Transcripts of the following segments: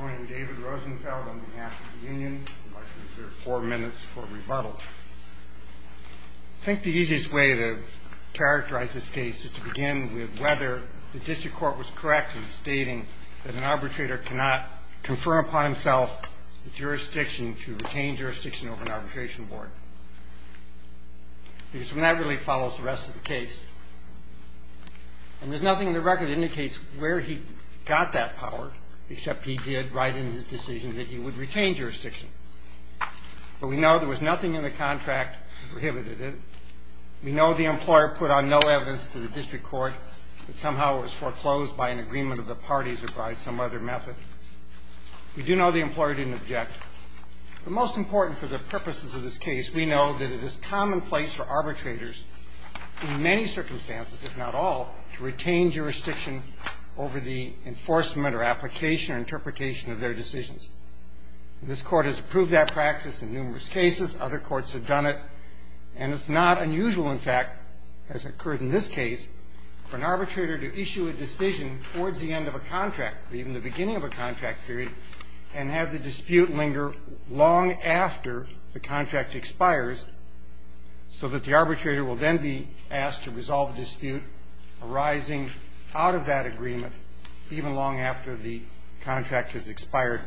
I think the easiest way to characterize this case is to begin with whether the district court was correct in stating that an arbitrator cannot confirm upon himself the jurisdiction to retain jurisdiction over an arbitration board, because that really follows the rest of the case. And there's nothing in the record that indicates where he got that power, except he did write in his decision that he would retain jurisdiction. But we know there was nothing in the contract that prohibited it. We know the employer put on no evidence to the district court that somehow it was foreclosed by an agreement of the parties or by some other method. We do know the employer didn't object. But most important for the purposes of this case, we know that it is commonplace for arbitrators in many circumstances, if not all, to retain jurisdiction over the enforcement or application or interpretation of their decisions. And this Court has approved that practice in numerous cases. Other courts have done it. And it's not unusual, in fact, as occurred in this case, for an arbitrator to issue a decision towards the end of a contract or even the beginning of a contract period and have the dispute linger long after the contract expires so that the arbitrator will then be asked to resolve a dispute arising out of that agreement even long after the contract has expired.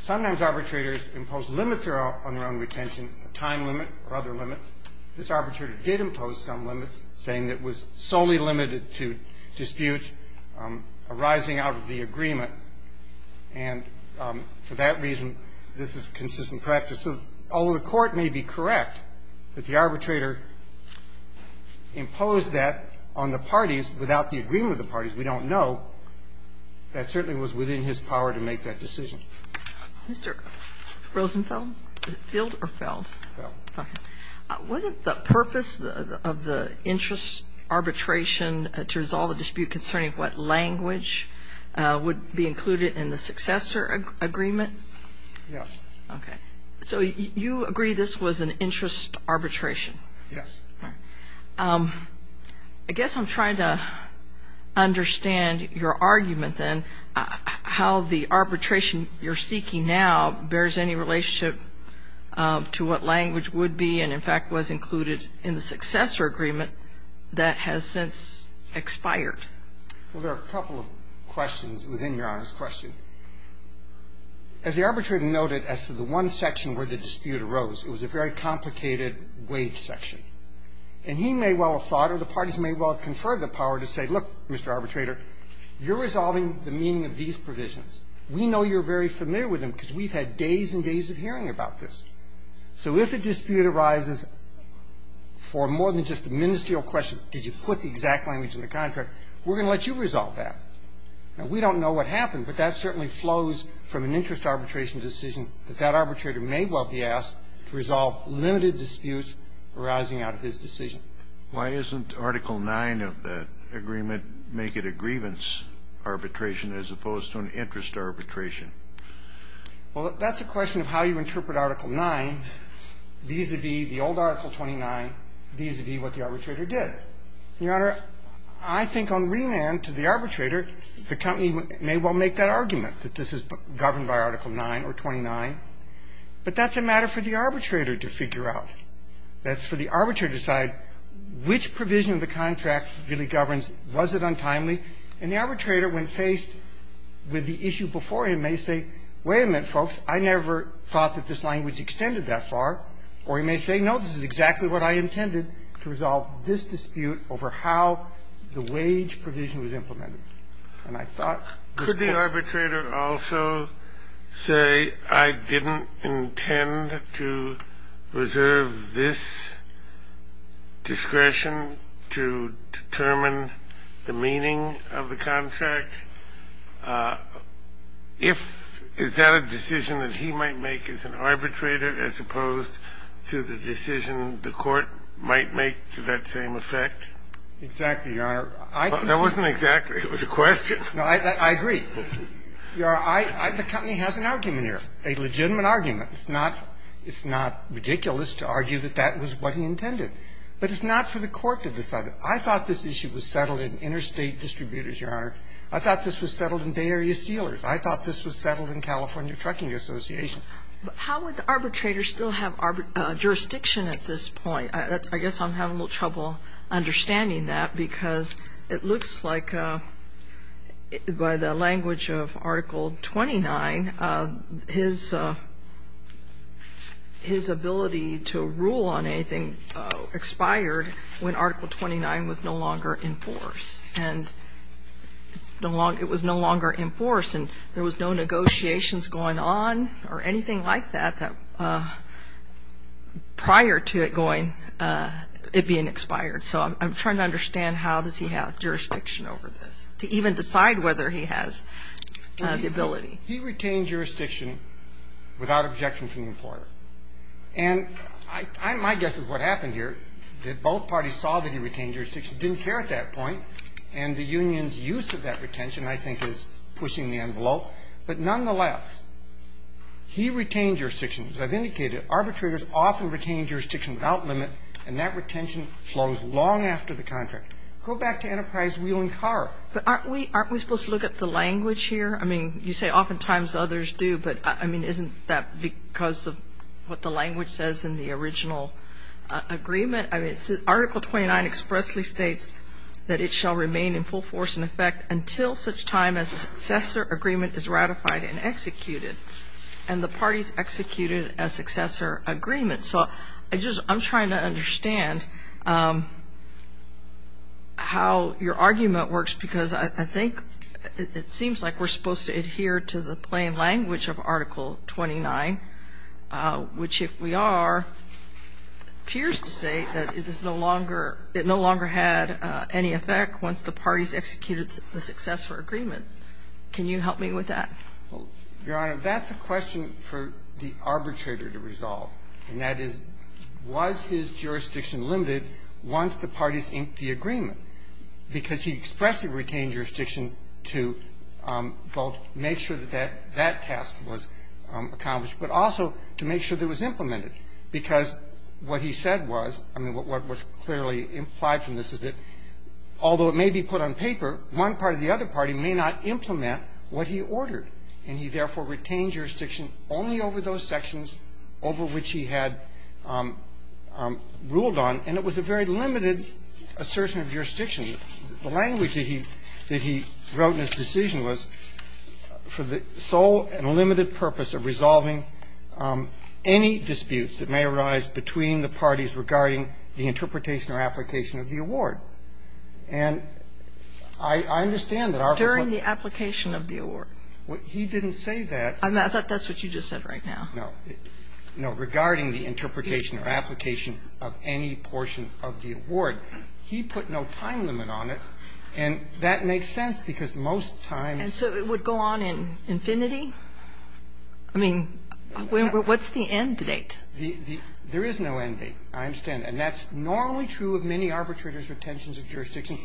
Sometimes arbitrators impose limits on their own retention, a time limit or other limits. This arbitrator did impose some limits, saying it was solely limited to disputes arising out of the agreement. And for that reason, this is consistent practice. So although the Court may be correct that the arbitrator imposed that on the parties without the agreement of the parties, we don't know, that certainly was within his power to make that decision. Mr. Rosenfeld? Is it Field or Feld? Feld. Okay. Wasn't the purpose of the interest arbitration to resolve a dispute concerning what language would be included in the successor agreement? Yes. Okay. So you agree this was an interest arbitration? Yes. All right. I guess I'm trying to understand your argument, then, how the arbitration you're seeking now bears any relationship to what language would be and, in fact, was included in the successor agreement that has since expired. Well, there are a couple of questions within Your Honor's question. As the arbitrator noted, as to the one section where the dispute arose, it was a very complicated wave section. And he may well have thought or the parties may well have conferred the power to say, look, Mr. Arbitrator, you're resolving the meaning of these provisions. We know you're very familiar with them because we've had days and days of hearing about this. So if a dispute arises for more than just a ministerial question, did you put the exact language in the contract, we're going to let you resolve that. Now, we don't know what happened, but that certainly flows from an interest arbitration decision that that arbitrator may well be asked to resolve limited disputes arising out of his decision. Why isn't Article 9 of that agreement make it a grievance arbitration as opposed to an interest arbitration? Well, that's a question of how you interpret Article 9 vis-à-vis the old Article 29 vis-à-vis what the arbitrator did. Your Honor, I think on remand to the arbitrator, the company may well make that argument, that this is governed by Article 9 or 29. But that's a matter for the arbitrator to figure out. That's for the arbitrator to decide which provision of the contract really governs. Was it untimely? And the arbitrator, when faced with the issue before him, may say, wait a minute, folks. I never thought that this language extended that far. Or he may say, no, this is exactly what I intended, to resolve this dispute over how the wage provision was implemented. And I thought this was the case. Could the arbitrator also say, I didn't intend to reserve this discretion to determine the meaning of the contract? Is that a decision that he might make as an arbitrator as opposed to the decision the Court might make to that same effect? Exactly, Your Honor. That wasn't exactly. It was a question. No, I agree. Your Honor, the company has an argument here, a legitimate argument. It's not ridiculous to argue that that was what he intended. But it's not for the Court to decide it. I thought this issue was settled in interstate distributors, Your Honor. I thought this was settled in Bay Area Sealers. I thought this was settled in California Trucking Association. But how would the arbitrator still have jurisdiction at this point? I guess I'm having a little trouble understanding that, because it looks like by the language of Article 29, his ability to rule on anything expired when Article 29 was no longer in force. And it's no longer ‑‑ it was no longer in force, and there was no negotiations going on or anything like that prior to it going ‑‑ it being expired. So I'm trying to understand how does he have jurisdiction over this to even decide whether he has the ability. He retained jurisdiction without objection from the employer. And my guess is what happened here, that both parties saw that he retained jurisdiction, didn't care at that point, and the union's use of that retention, I think, is pushing the envelope. But nonetheless, he retained jurisdiction. As I've indicated, arbitrators often retain jurisdiction without limit, and that retention flows long after the contract. Go back to Enterprise Wheeling Car. But aren't we supposed to look at the language here? I mean, you say oftentimes others do, but, I mean, isn't that because of what the language says in the original agreement? I mean, Article 29 expressly states that it shall remain in full force in effect until such time as a successor agreement is ratified and executed. And the parties executed a successor agreement. So I'm trying to understand how your argument works, because I think it seems like we're supposed to adhere to the plain language of Article 29, which, if we are, appears to say that it is no longer, it no longer had any effect once the parties executed the successor agreement. Can you help me with that? Your Honor, that's a question for the arbitrator to resolve. And that is, was his jurisdiction limited once the parties inked the agreement? Because he expressly retained jurisdiction to both make sure that that task was accomplished, but also to make sure that it was implemented, because what he said was, I mean, what was clearly implied from this is that although it may be put on paper, one part of the other party may not implement what he ordered. And he therefore retained jurisdiction only over those sections over which he had ruled on, and it was a very limited assertion of jurisdiction. The language that he wrote in his decision was, for the sole and limited purpose of resolving any disputes that may arise between the parties regarding the interpretation or application of the award. And I understand that Article 29. During the application of the award. He didn't say that. I thought that's what you just said right now. No. No, regarding the interpretation or application of any portion of the award. He put no time limit on it, and that makes sense, because most times. And so it would go on in infinity? I mean, what's the end date? There is no end date. I understand that. And that's normally true of many arbitrators' retentions of jurisdiction.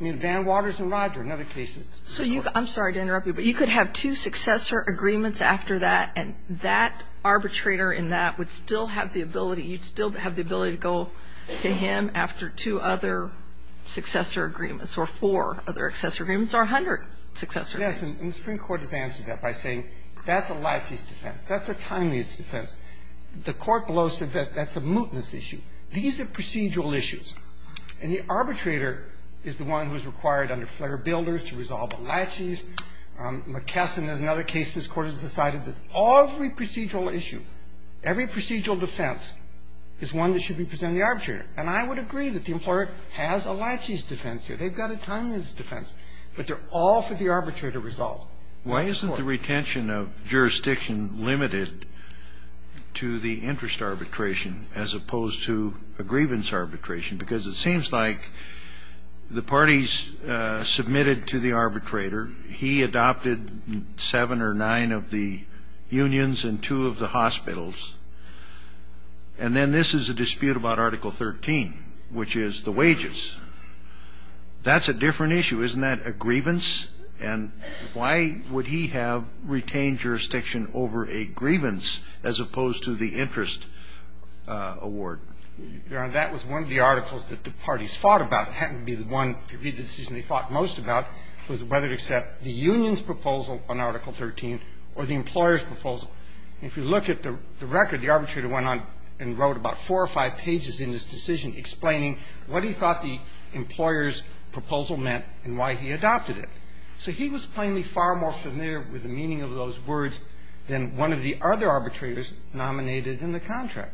I mean, Van Waters and Roger and other cases. So you could – I'm sorry to interrupt you, but you could have two successor agreements after that, and that arbitrator in that would still have the ability – you'd still have the ability to go to him after two other successor agreements or four other successor agreements or 100 successor agreements. Yes, and the Supreme Court has answered that by saying that's a laches defense. That's a timeliness defense. The Court below said that that's a mootness issue. These are procedural issues. And the arbitrator is the one who is required under Flair Builders to resolve a laches. McKesson has another case. This Court has decided that every procedural issue, every procedural defense, is one that should be presented to the arbitrator. And I would agree that the employer has a laches defense here. They've got a timeliness defense. But they're all for the arbitrator to resolve. Why isn't the retention of jurisdiction limited to the interest arbitration as opposed to a grievance arbitration? Because it seems like the parties submitted to the arbitrator. He adopted seven or nine of the unions and two of the hospitals. And then this is a dispute about Article 13, which is the wages. That's a different issue, isn't that? And the arbitrator has a grievance. And why would he have retained jurisdiction over a grievance as opposed to the interest award? Your Honor, that was one of the articles that the parties fought about. It happened to be the one decision they fought most about was whether to accept the union's proposal on Article 13 or the employer's proposal. And if you look at the record, the arbitrator went on and wrote about four or five pages in his decision explaining what he thought the employer's proposal meant and why he adopted it. So he was plainly far more familiar with the meaning of those words than one of the other arbitrators nominated in the contract.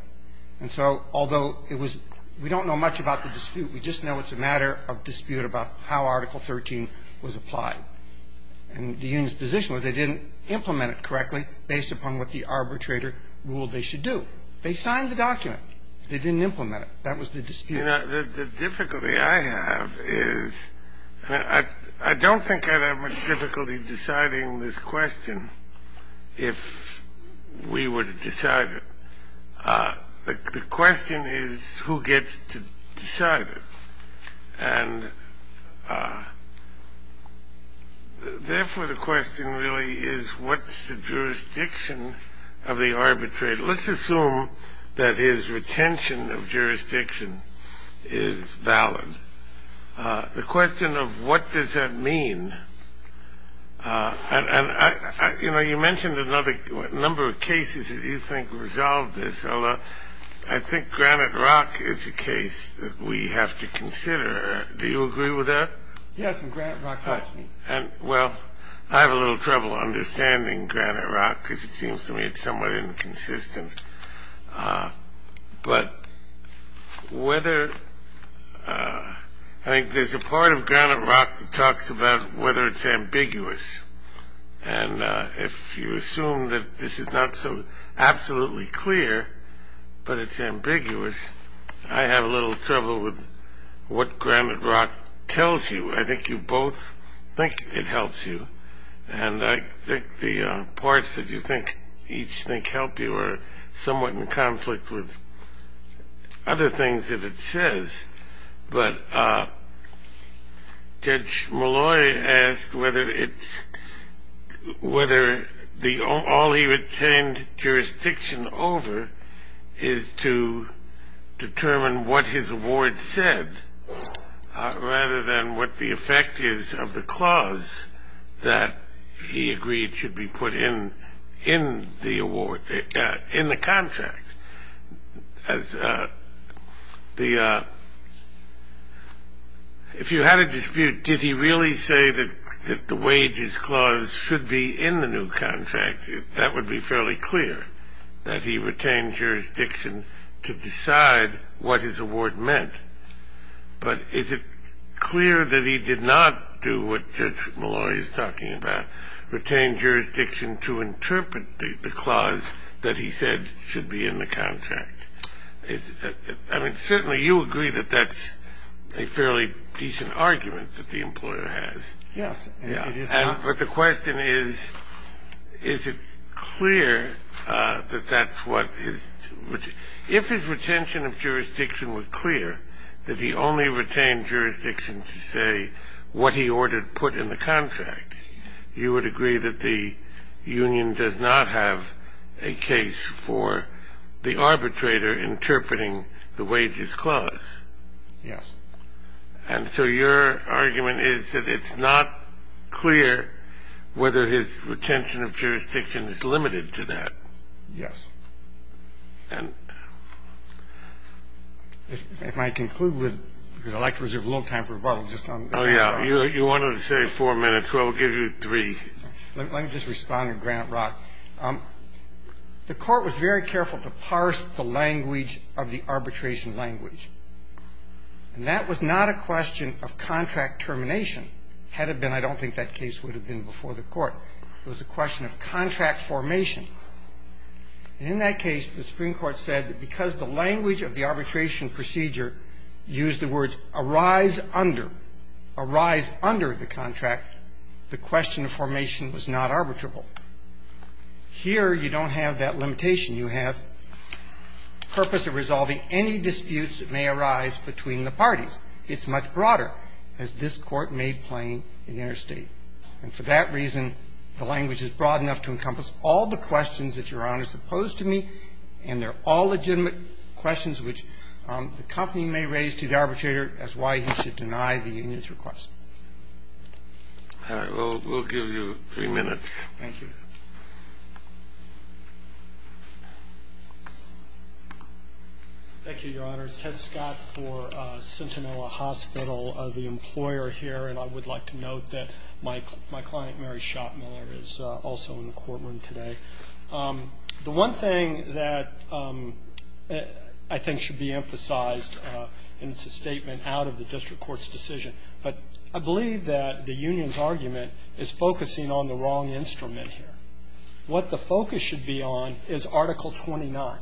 And so although it was we don't know much about the dispute. We just know it's a matter of dispute about how Article 13 was applied. And the union's position was they didn't implement it correctly based upon what the arbitrator ruled they should do. They signed the document. They didn't implement it. That was the dispute. The difficulty I have is I don't think I'd have much difficulty deciding this question if we were to decide it. The question is who gets to decide it. And therefore, the question really is what's the jurisdiction of the arbitrator. Let's assume that his retention of jurisdiction is valid. The question of what does that mean, and, you know, you mentioned a number of cases that you think resolved this. I think Granite Rock is a case that we have to consider. Do you agree with that? Yes, and Granite Rock does. Well, I have a little trouble understanding Granite Rock because it seems to me it's somewhat inconsistent. But I think there's a part of Granite Rock that talks about whether it's ambiguous. And if you assume that this is not so absolutely clear but it's ambiguous, I have a little trouble with what Granite Rock tells you. I think you both think it helps you. And I think the parts that you think each think help you are somewhat in conflict with other things that it says. But Judge Malloy asked whether all he retained jurisdiction over is to determine what his award said rather than what the effect is of the clause that he agreed should be put in the contract. If you had a dispute, did he really say that the wages clause should be in the new contract, that would be fairly clear that he retained jurisdiction to decide what his award meant. But is it clear that he did not do what Judge Malloy is talking about, retain jurisdiction to interpret the clause that he said should be in the contract? I mean, certainly you agree that that's a fairly decent argument that the employer has. Yes. But the question is, is it clear that that's what his – if his retention of jurisdiction were clear, that he only retained jurisdiction to say what he ordered put in the contract, you would agree that the union does not have a case for the arbitrator interpreting the wages clause? Yes. And so your argument is that it's not clear whether his retention of jurisdiction is limited to that. Yes. And – If I conclude with – because I'd like to reserve a little time for rebuttal. Oh, yeah. You wanted to say four minutes. Well, we'll give you three. Let me just respond to Grant Roth. The Court was very careful to parse the language of the arbitration language. And that was not a question of contract termination. Had it been, I don't think that case would have been before the Court. It was a question of contract formation. And in that case, the Supreme Court said that because the language of the arbitration procedure used the words arise under, arise under the contract, the question of formation was not arbitrable. Here, you don't have that limitation. You have purpose of resolving any disputes that may arise between the parties. It's much broader, as this Court made plain in interstate. And for that reason, the language is broad enough to encompass all the questions that Your Honors have posed to me, and they're all legitimate questions which the company may raise to the arbitrator as why he should deny the union's request. All right. We'll give you three minutes. Thank you. Thank you, Your Honors. Ted Scott for Centinella Hospital, the employer here. And I would like to note that my client, Mary Schottmiller, is also in the courtroom today. The one thing that I think should be emphasized, and it's a statement out of the district court's decision, but I believe that the union's argument is focusing on the wrong instrument here. What the focus should be on is Article 29.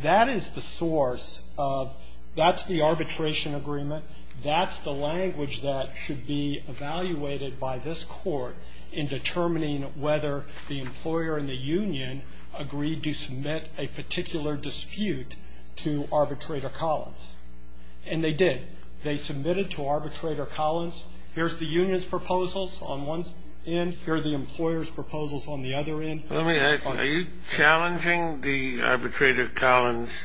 That is the source of the arbitration agreement. That's the language that should be evaluated by this Court in determining whether the employer and the union agreed to submit a particular dispute to Arbitrator Collins. And they did. They submitted to Arbitrator Collins, here's the union's proposals on one end, here is proposals on the other end. Are you challenging the Arbitrator Collins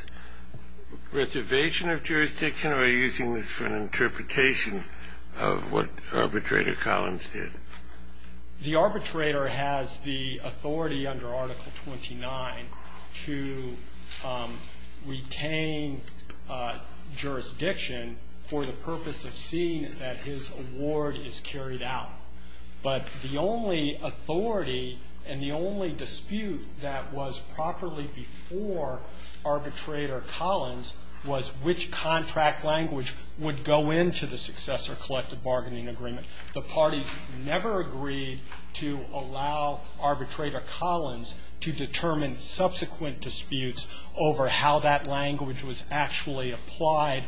reservation of jurisdiction, or are you using this for an interpretation of what Arbitrator Collins did? The arbitrator has the authority under Article 29 to retain jurisdiction for the purpose of seeing that his award is carried out. But the only authority and the only dispute that was properly before Arbitrator Collins was which contract language would go into the successor collective bargaining agreement. The parties never agreed to allow Arbitrator Collins to determine subsequent disputes over how that language was actually applied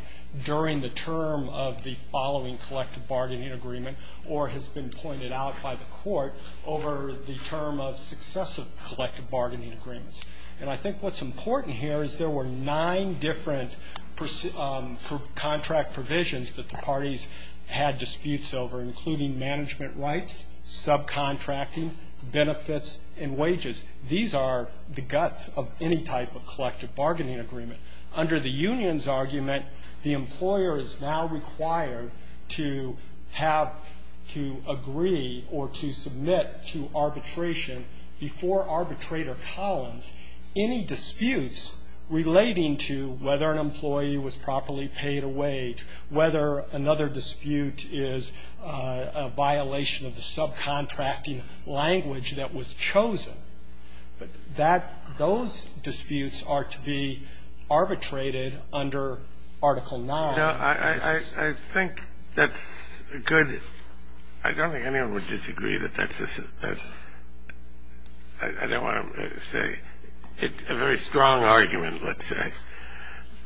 during the term of the following collective bargaining agreement or has been pointed out by the Court over the term of successive collective bargaining agreements. And I think what's important here is there were nine different contract provisions that the parties had disputes over, including management rights, subcontracting, benefits, and wages. These are the guts of any type of collective bargaining agreement. Under the union's argument, the employer is now required to have to agree or to submit to arbitration before Arbitrator Collins any disputes relating to whether an employee was properly paid a wage, whether another dispute is a violation of the subcontracting language that was chosen. That those disputes are to be arbitrated under Article 9. I think that's good. I don't think anyone would disagree that that's a, I don't want to say. It's a very strong argument, let's say.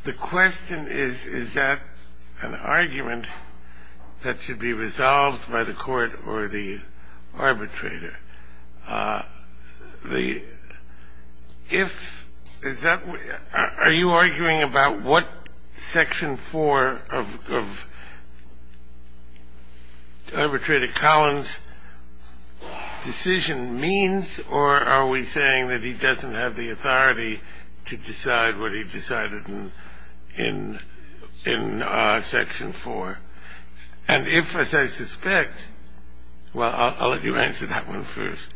The question is, is that an argument that should be resolved by the Court or the arbitrator? The, if, is that, are you arguing about what Section 4 of Arbitrator Collins' decision means, or are we saying that he doesn't have the authority to decide what he decided in Section 4? And if, as I suspect, well, I'll let you answer that one first.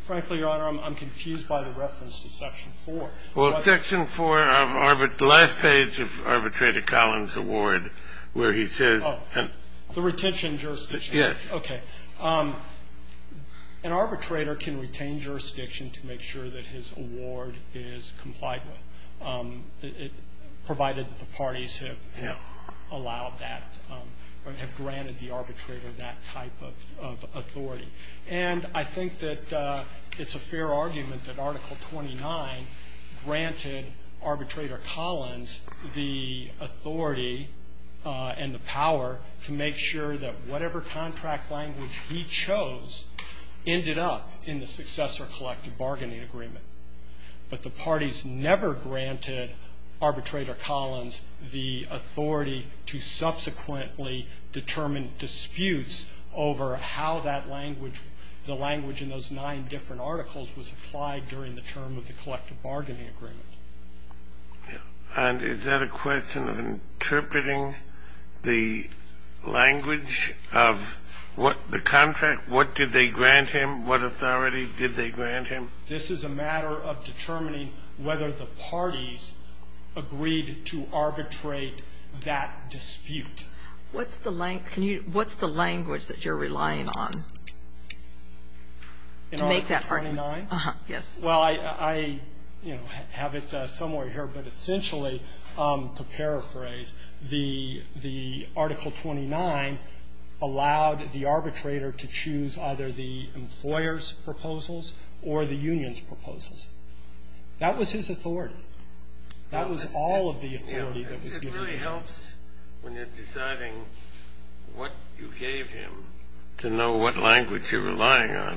Frankly, Your Honor, I'm confused by the reference to Section 4. Well, Section 4 of Arbitrator, the last page of Arbitrator Collins' award where he says. Oh, the retention jurisdiction. Yes. Okay. An arbitrator can retain jurisdiction to make sure that his award is complied with, provided that the parties have allowed that or have granted the arbitrator that type of authority. And I think that it's a fair argument that Article 29 granted Arbitrator Collins the authority and the power to make sure that whatever contract language he chose ended up in the successor collective bargaining agreement. But the parties never granted Arbitrator Collins the authority to subsequently determine disputes over how that language, the language in those nine different articles was applied during the term of the collective bargaining agreement. And is that a question of interpreting the language of what the contract, what did they grant him, what authority did they grant him? This is a matter of determining whether the parties agreed to arbitrate that dispute. What's the language that you're relying on to make that argument? In Article 29? Yes. Well, I, you know, have it somewhere here. But essentially, to paraphrase, the Article 29 allowed the arbitrator to choose either the employer's proposals or the union's proposals. That was his authority. That was all of the authority that was given to him. It really helps when you're deciding what you gave him to know what language you're relying on. I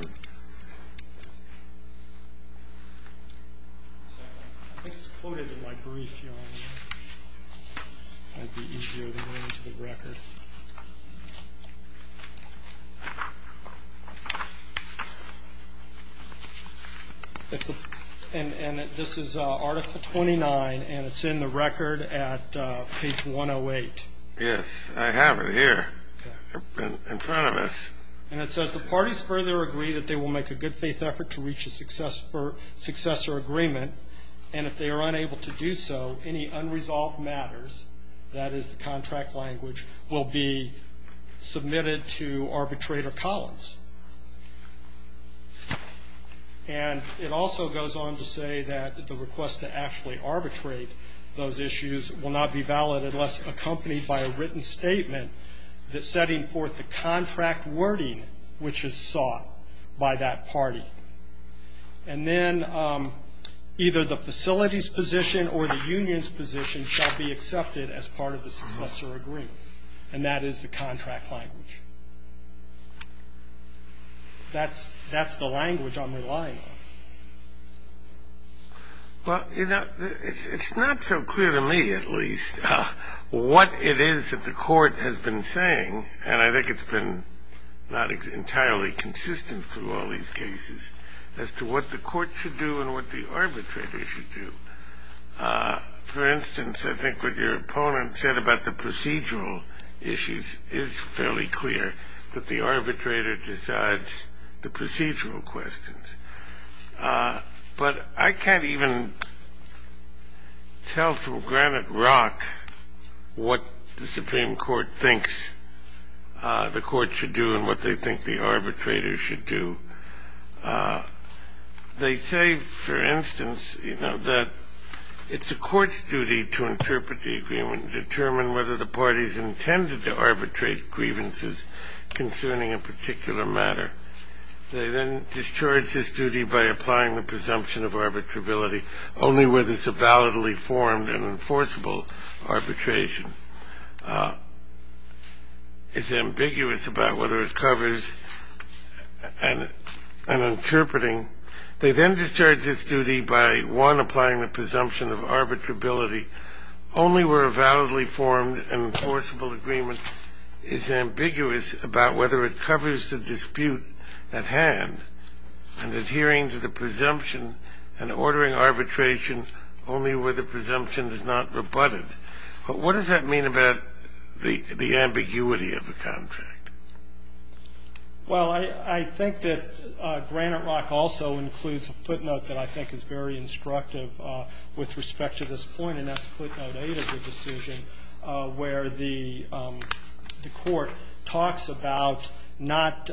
think it's quoted in my brief here. And this is Article 29, and it's in the record at page 108. Yes. I have it here in front of us. And it says, The parties further agree that they will make a good-faith effort to reach a successor agreement. And if they are unable to do so, any unresolved matters, that is the contract language, will be submitted to arbitrator Collins. And it also goes on to say that the request to actually arbitrate those issues will not be valid unless accompanied by a written statement that's setting forth the contract wording which is sought by that party. And then either the facility's position or the union's position shall be accepted as part of the successor agreement. And that is the contract language. That's the language I'm relying on. Well, you know, it's not so clear to me, at least, what it is that the court has been saying, and I think it's been not entirely consistent through all these cases, as to what the court should do and what the arbitrator should do. For instance, I think what your opponent said about the procedural issues is fairly clear, that the arbitrator decides the procedural questions. But I can't even tell from granite rock what the Supreme Court thinks the court should do and what they think the arbitrator should do. They say, for instance, you know, that it's the court's duty to interpret the agreement and determine whether the party's intended to arbitrate grievances concerning a particular matter. They then discharge this duty by applying the presumption of arbitrability only where there's a validly formed and enforceable arbitration. It's ambiguous about whether it covers an interpreting. They then discharge this duty by, one, applying the presumption of arbitrability only where a validly formed and enforceable agreement is ambiguous about whether it covers the dispute at hand, and adhering to the presumption and ordering arbitration only where the presumption is not rebutted. But what does that mean about the ambiguity of the contract? Well, I think that granite rock also includes a footnote that I think is very instructive with respect to this point, and that's footnote 8 of the decision, where the court talks about not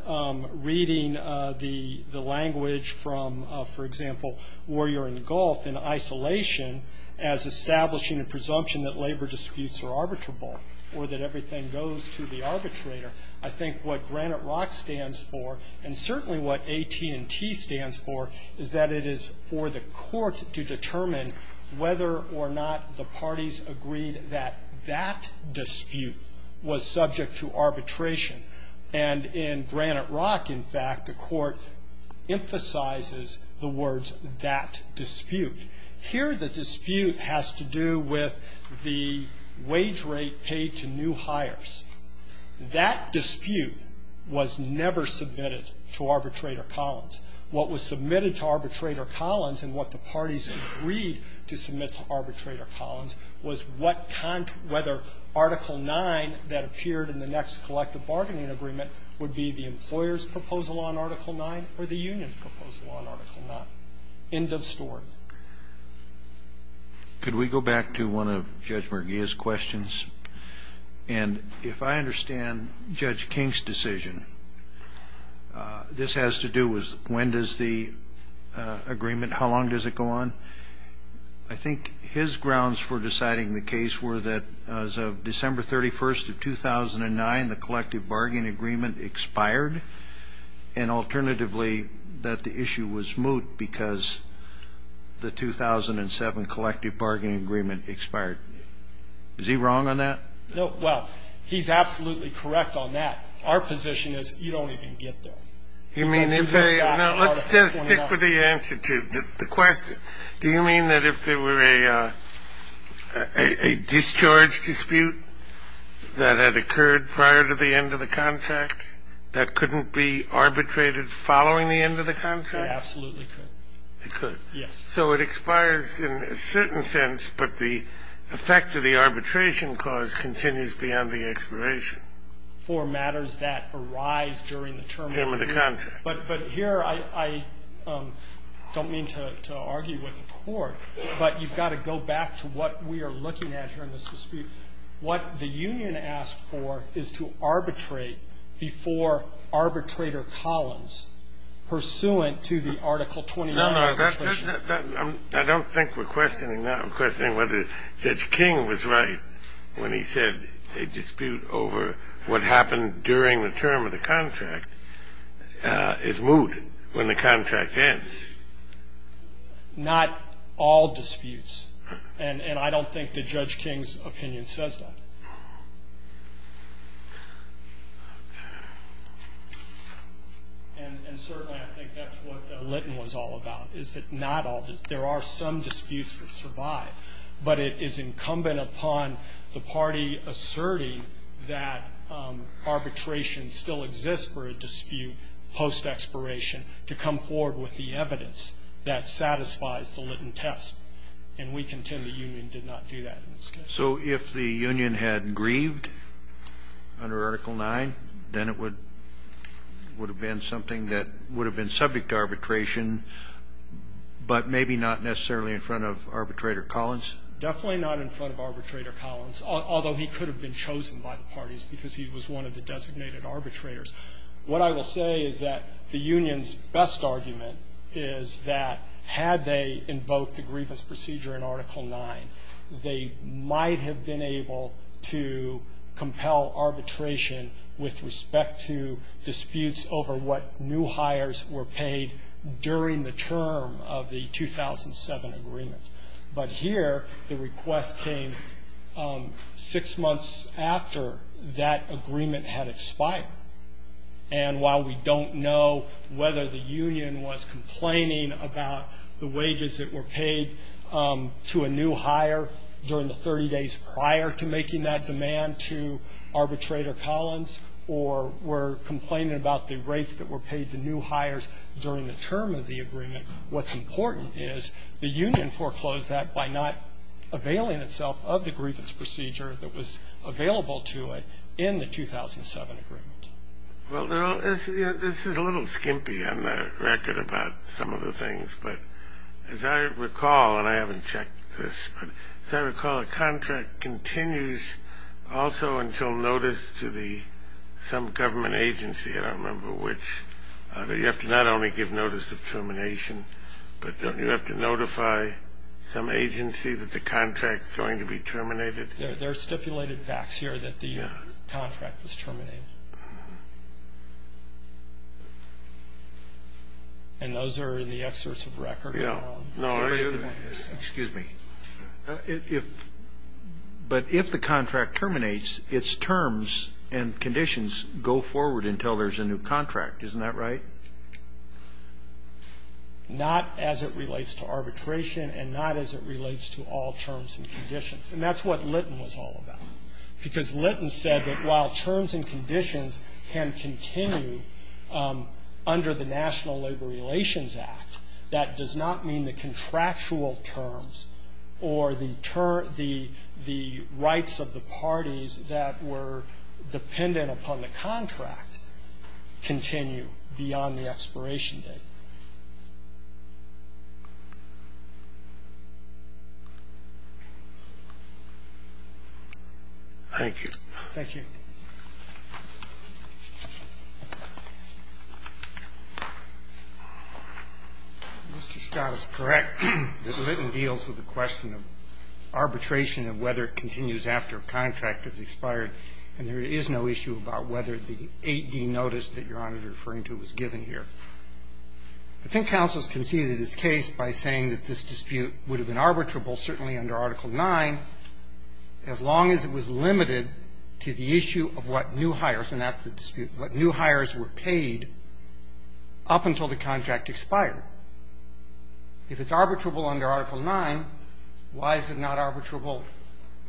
reading the language from, for example, warrior and gulf in isolation as establishing a presumption that labor disputes are arbitrable or that everything goes to the arbitrator. I think what granite rock stands for, and certainly what AT&T stands for, is that it is for the court to determine whether or not the parties agreed that that dispute was subject to arbitration. And in granite rock, in fact, the court emphasizes the words, that dispute. Here, the dispute has to do with the wage rate paid to new hires. That dispute was never submitted to Arbitrator Collins. What was submitted to Arbitrator Collins and what the parties agreed to submit to Arbitrator Collins was what kind of – whether Article 9 that appeared in the next collective bargaining agreement would be the employer's proposal on Article 9 or the union's proposal on Article 9. End of story. Kennedy. Could we go back to one of Judge Merguia's questions? And if I understand Judge King's decision, this has to do with when does the agreement – how long does it go on? I think his grounds for deciding the case were that as of December 31st of 2009, the collective bargaining agreement expired, and alternatively that the issue was moot because the 2007 collective bargaining agreement expired. Is he wrong on that? Well, he's absolutely correct on that. Our position is you don't even get there. You mean if they – no, let's just stick with the answer to the question. Do you mean that if there were a discharge dispute that had occurred prior to the end of the contract that couldn't be arbitrated following the end of the contract? It absolutely could. It could. Yes. So it expires in a certain sense, but the effect of the arbitration clause continues beyond the expiration. Well, I don't think that's a good argument. I think it's a good argument for matters that arise during the term of the contract. Term of the contract. But here I don't mean to argue with the Court, but you've got to go back to what we are looking at here in this dispute. What the union asked for is to arbitrate before arbitrator Collins, pursuant to the Article 29. No, no. I don't think we're questioning that. We're questioning whether Judge King was right when he said a dispute over what happened during the term of the contract is moot when the contract ends. Not all disputes. And I don't think that Judge King's opinion says that. And certainly I think that's what Litton was all about, is that not all the – there are some disputes that survive, but it is incumbent upon the party asserting that arbitration still exists for a dispute post-expiration to come forward with the evidence that satisfies the Litton test. And we contend the union did not do that in this case. So if the union had grieved under Article 9, then it would have been something that would have been subject to arbitration, but maybe not necessarily in front of arbitrator Collins? Definitely not in front of arbitrator Collins, although he could have been chosen by the parties because he was one of the designated arbitrators. What I will say is that the union's best argument is that had they invoked the grievance procedure in Article 9, they might have been able to compel arbitration with respect to disputes over what new hires were paid during the term of the 2007 agreement. But here, the request came six months after that agreement had expired. And while we don't know whether the union was complaining about the wages that were paid to a new hire during the 30 days prior to making that demand to arbitrator Collins or were complaining about the rates that were paid to new hires during the term of the agreement, what's important is the union foreclosed that by not availing itself of the grievance procedure that was available to it in the 2007 agreement. Well, this is a little skimpy on the record about some of the things. But as I recall, and I haven't checked this, but as I recall, a contract continues also until notice to some government agency, I don't remember which, that you have to not only give notice of termination, but don't you have to notify some agency that the contract is going to be terminated? There are stipulated facts here that the contract was terminated. And those are in the excerpts of record. No. Excuse me. But if the contract terminates, its terms and conditions go forward until there's a new contract. Isn't that right? Not as it relates to arbitration and not as it relates to all terms and conditions. And that's what Litton was all about. Because Litton said that while terms and conditions can continue under the National Labor Relations Act, that does not mean the contractual terms or the rights of the parties that were dependent upon the contract continue beyond the expiration date. Thank you. Thank you. Mr. Scott is correct that Litton deals with the question of arbitration and whether it continues after a contract has expired, and there is no issue about whether the 8D notice that Your Honor is referring to was given here. I think counsel has conceded this case by saying that this dispute would have been arbitrable certainly under Article 9 as long as it was limited to the issue of what new hires, and that's the dispute, what new hires were paid up until the contract expired. If it's arbitrable under Article 9, why is it not arbitrable?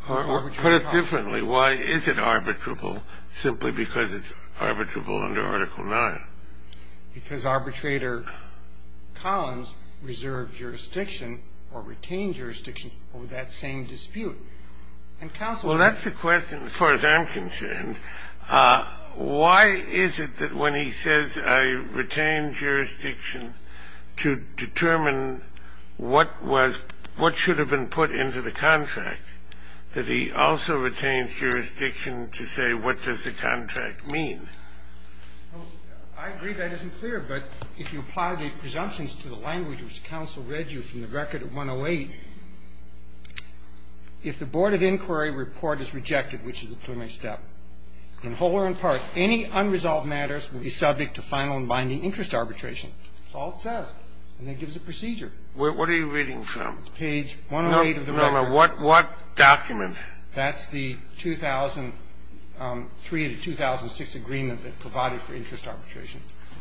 Put it differently. Why is it arbitrable simply because it's arbitrable under Article 9? Because arbitrator Collins reserved jurisdiction or retained jurisdiction over that same dispute. Well, that's the question as far as I'm concerned. Why is it that when he says I retained jurisdiction to determine what was, what should have been put into the contract, that he also retains jurisdiction to say what does the contract mean? I agree that isn't clear, but if you apply the presumptions to the language which counsel read you from the record of 108, if the Board of Inquiry report is rejected, which is a preliminary step, in whole or in part, any unresolved matters will be subject to final and binding interest arbitration. That's all it says. And then it gives a procedure. What are you reading from? It's page 108 of the record. No, no. What document? That's the 2003 to 2006 agreement that provided for interest arbitration.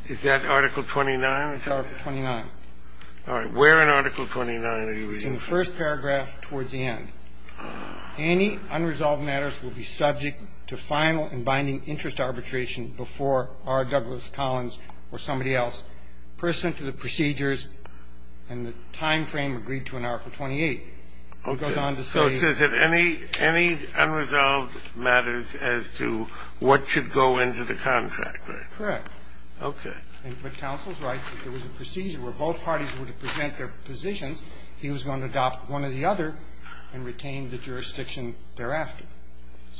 Is that Article 29? It's Article 29. All right. Where in Article 29 are you reading from? It's in the first paragraph towards the end. Any unresolved matters will be subject to final and binding interest arbitration before R. Douglas Tollins or somebody else person to the procedures and the timeframe agreed to in Article 28. It goes on to say that any unresolved matters as to what should go into the contract. Correct. Okay. But counsel's right that there was a procedure where both parties were to present their positions. He was going to adopt one or the other and retain the jurisdiction thereafter.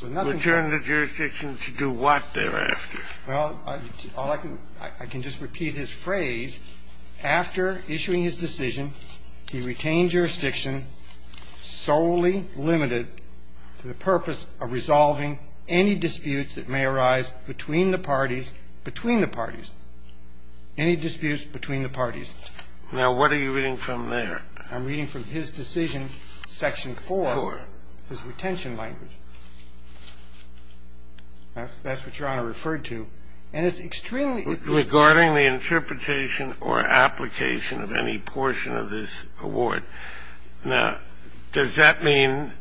Return the jurisdiction to do what thereafter? Well, I can just repeat his phrase. After issuing his decision, he retained jurisdiction solely limited to the purpose of resolving any disputes that may arise between the parties, between the parties. Any disputes between the parties. Now, what are you reading from there? I'm reading from his decision, Section 4. Four. His retention language. That's what Your Honor referred to. And it's extremely important. Regarding the interpretation or application of any portion of this award, now, does that mean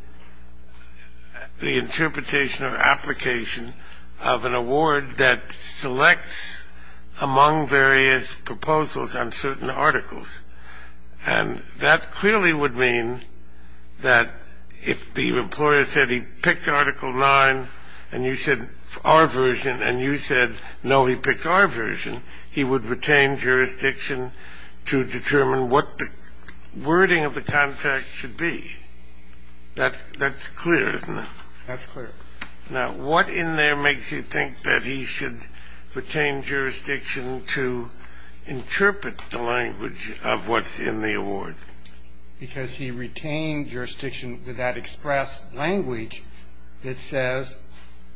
the interpretation or application of an award that selects among various proposals on certain articles? And that clearly would mean that if the employer said he picked Article 9 and you said our version and you said, no, he picked our version, he would retain jurisdiction to determine what the wording of the contract should be. That's clear, isn't it? That's clear. Now, what in there makes you think that he should retain jurisdiction to interpret the language of what's in the award? Because he retained jurisdiction with that express language that says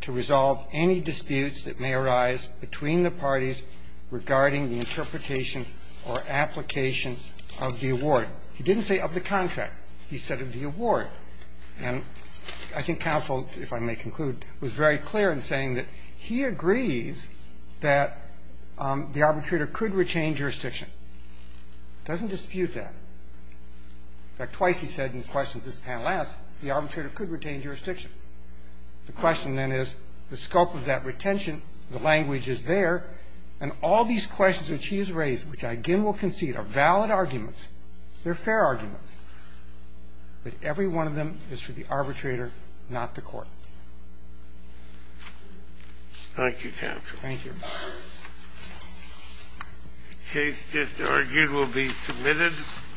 to resolve any disputes that may arise between the parties regarding the interpretation or application of the award. He didn't say of the contract. He said of the award. And I think counsel, if I may conclude, was very clear in saying that he agrees that the arbitrator could retain jurisdiction. He doesn't dispute that. In fact, twice he said in questions this panel asked, the arbitrator could retain jurisdiction. The question, then, is the scope of that retention, the language is there, and all these questions which he has raised, which I again will concede are valid arguments, they're fair arguments, that every one of them is for the arbitrator, not the Court. Thank you, counsel. Thank you. The case just argued will be submitted.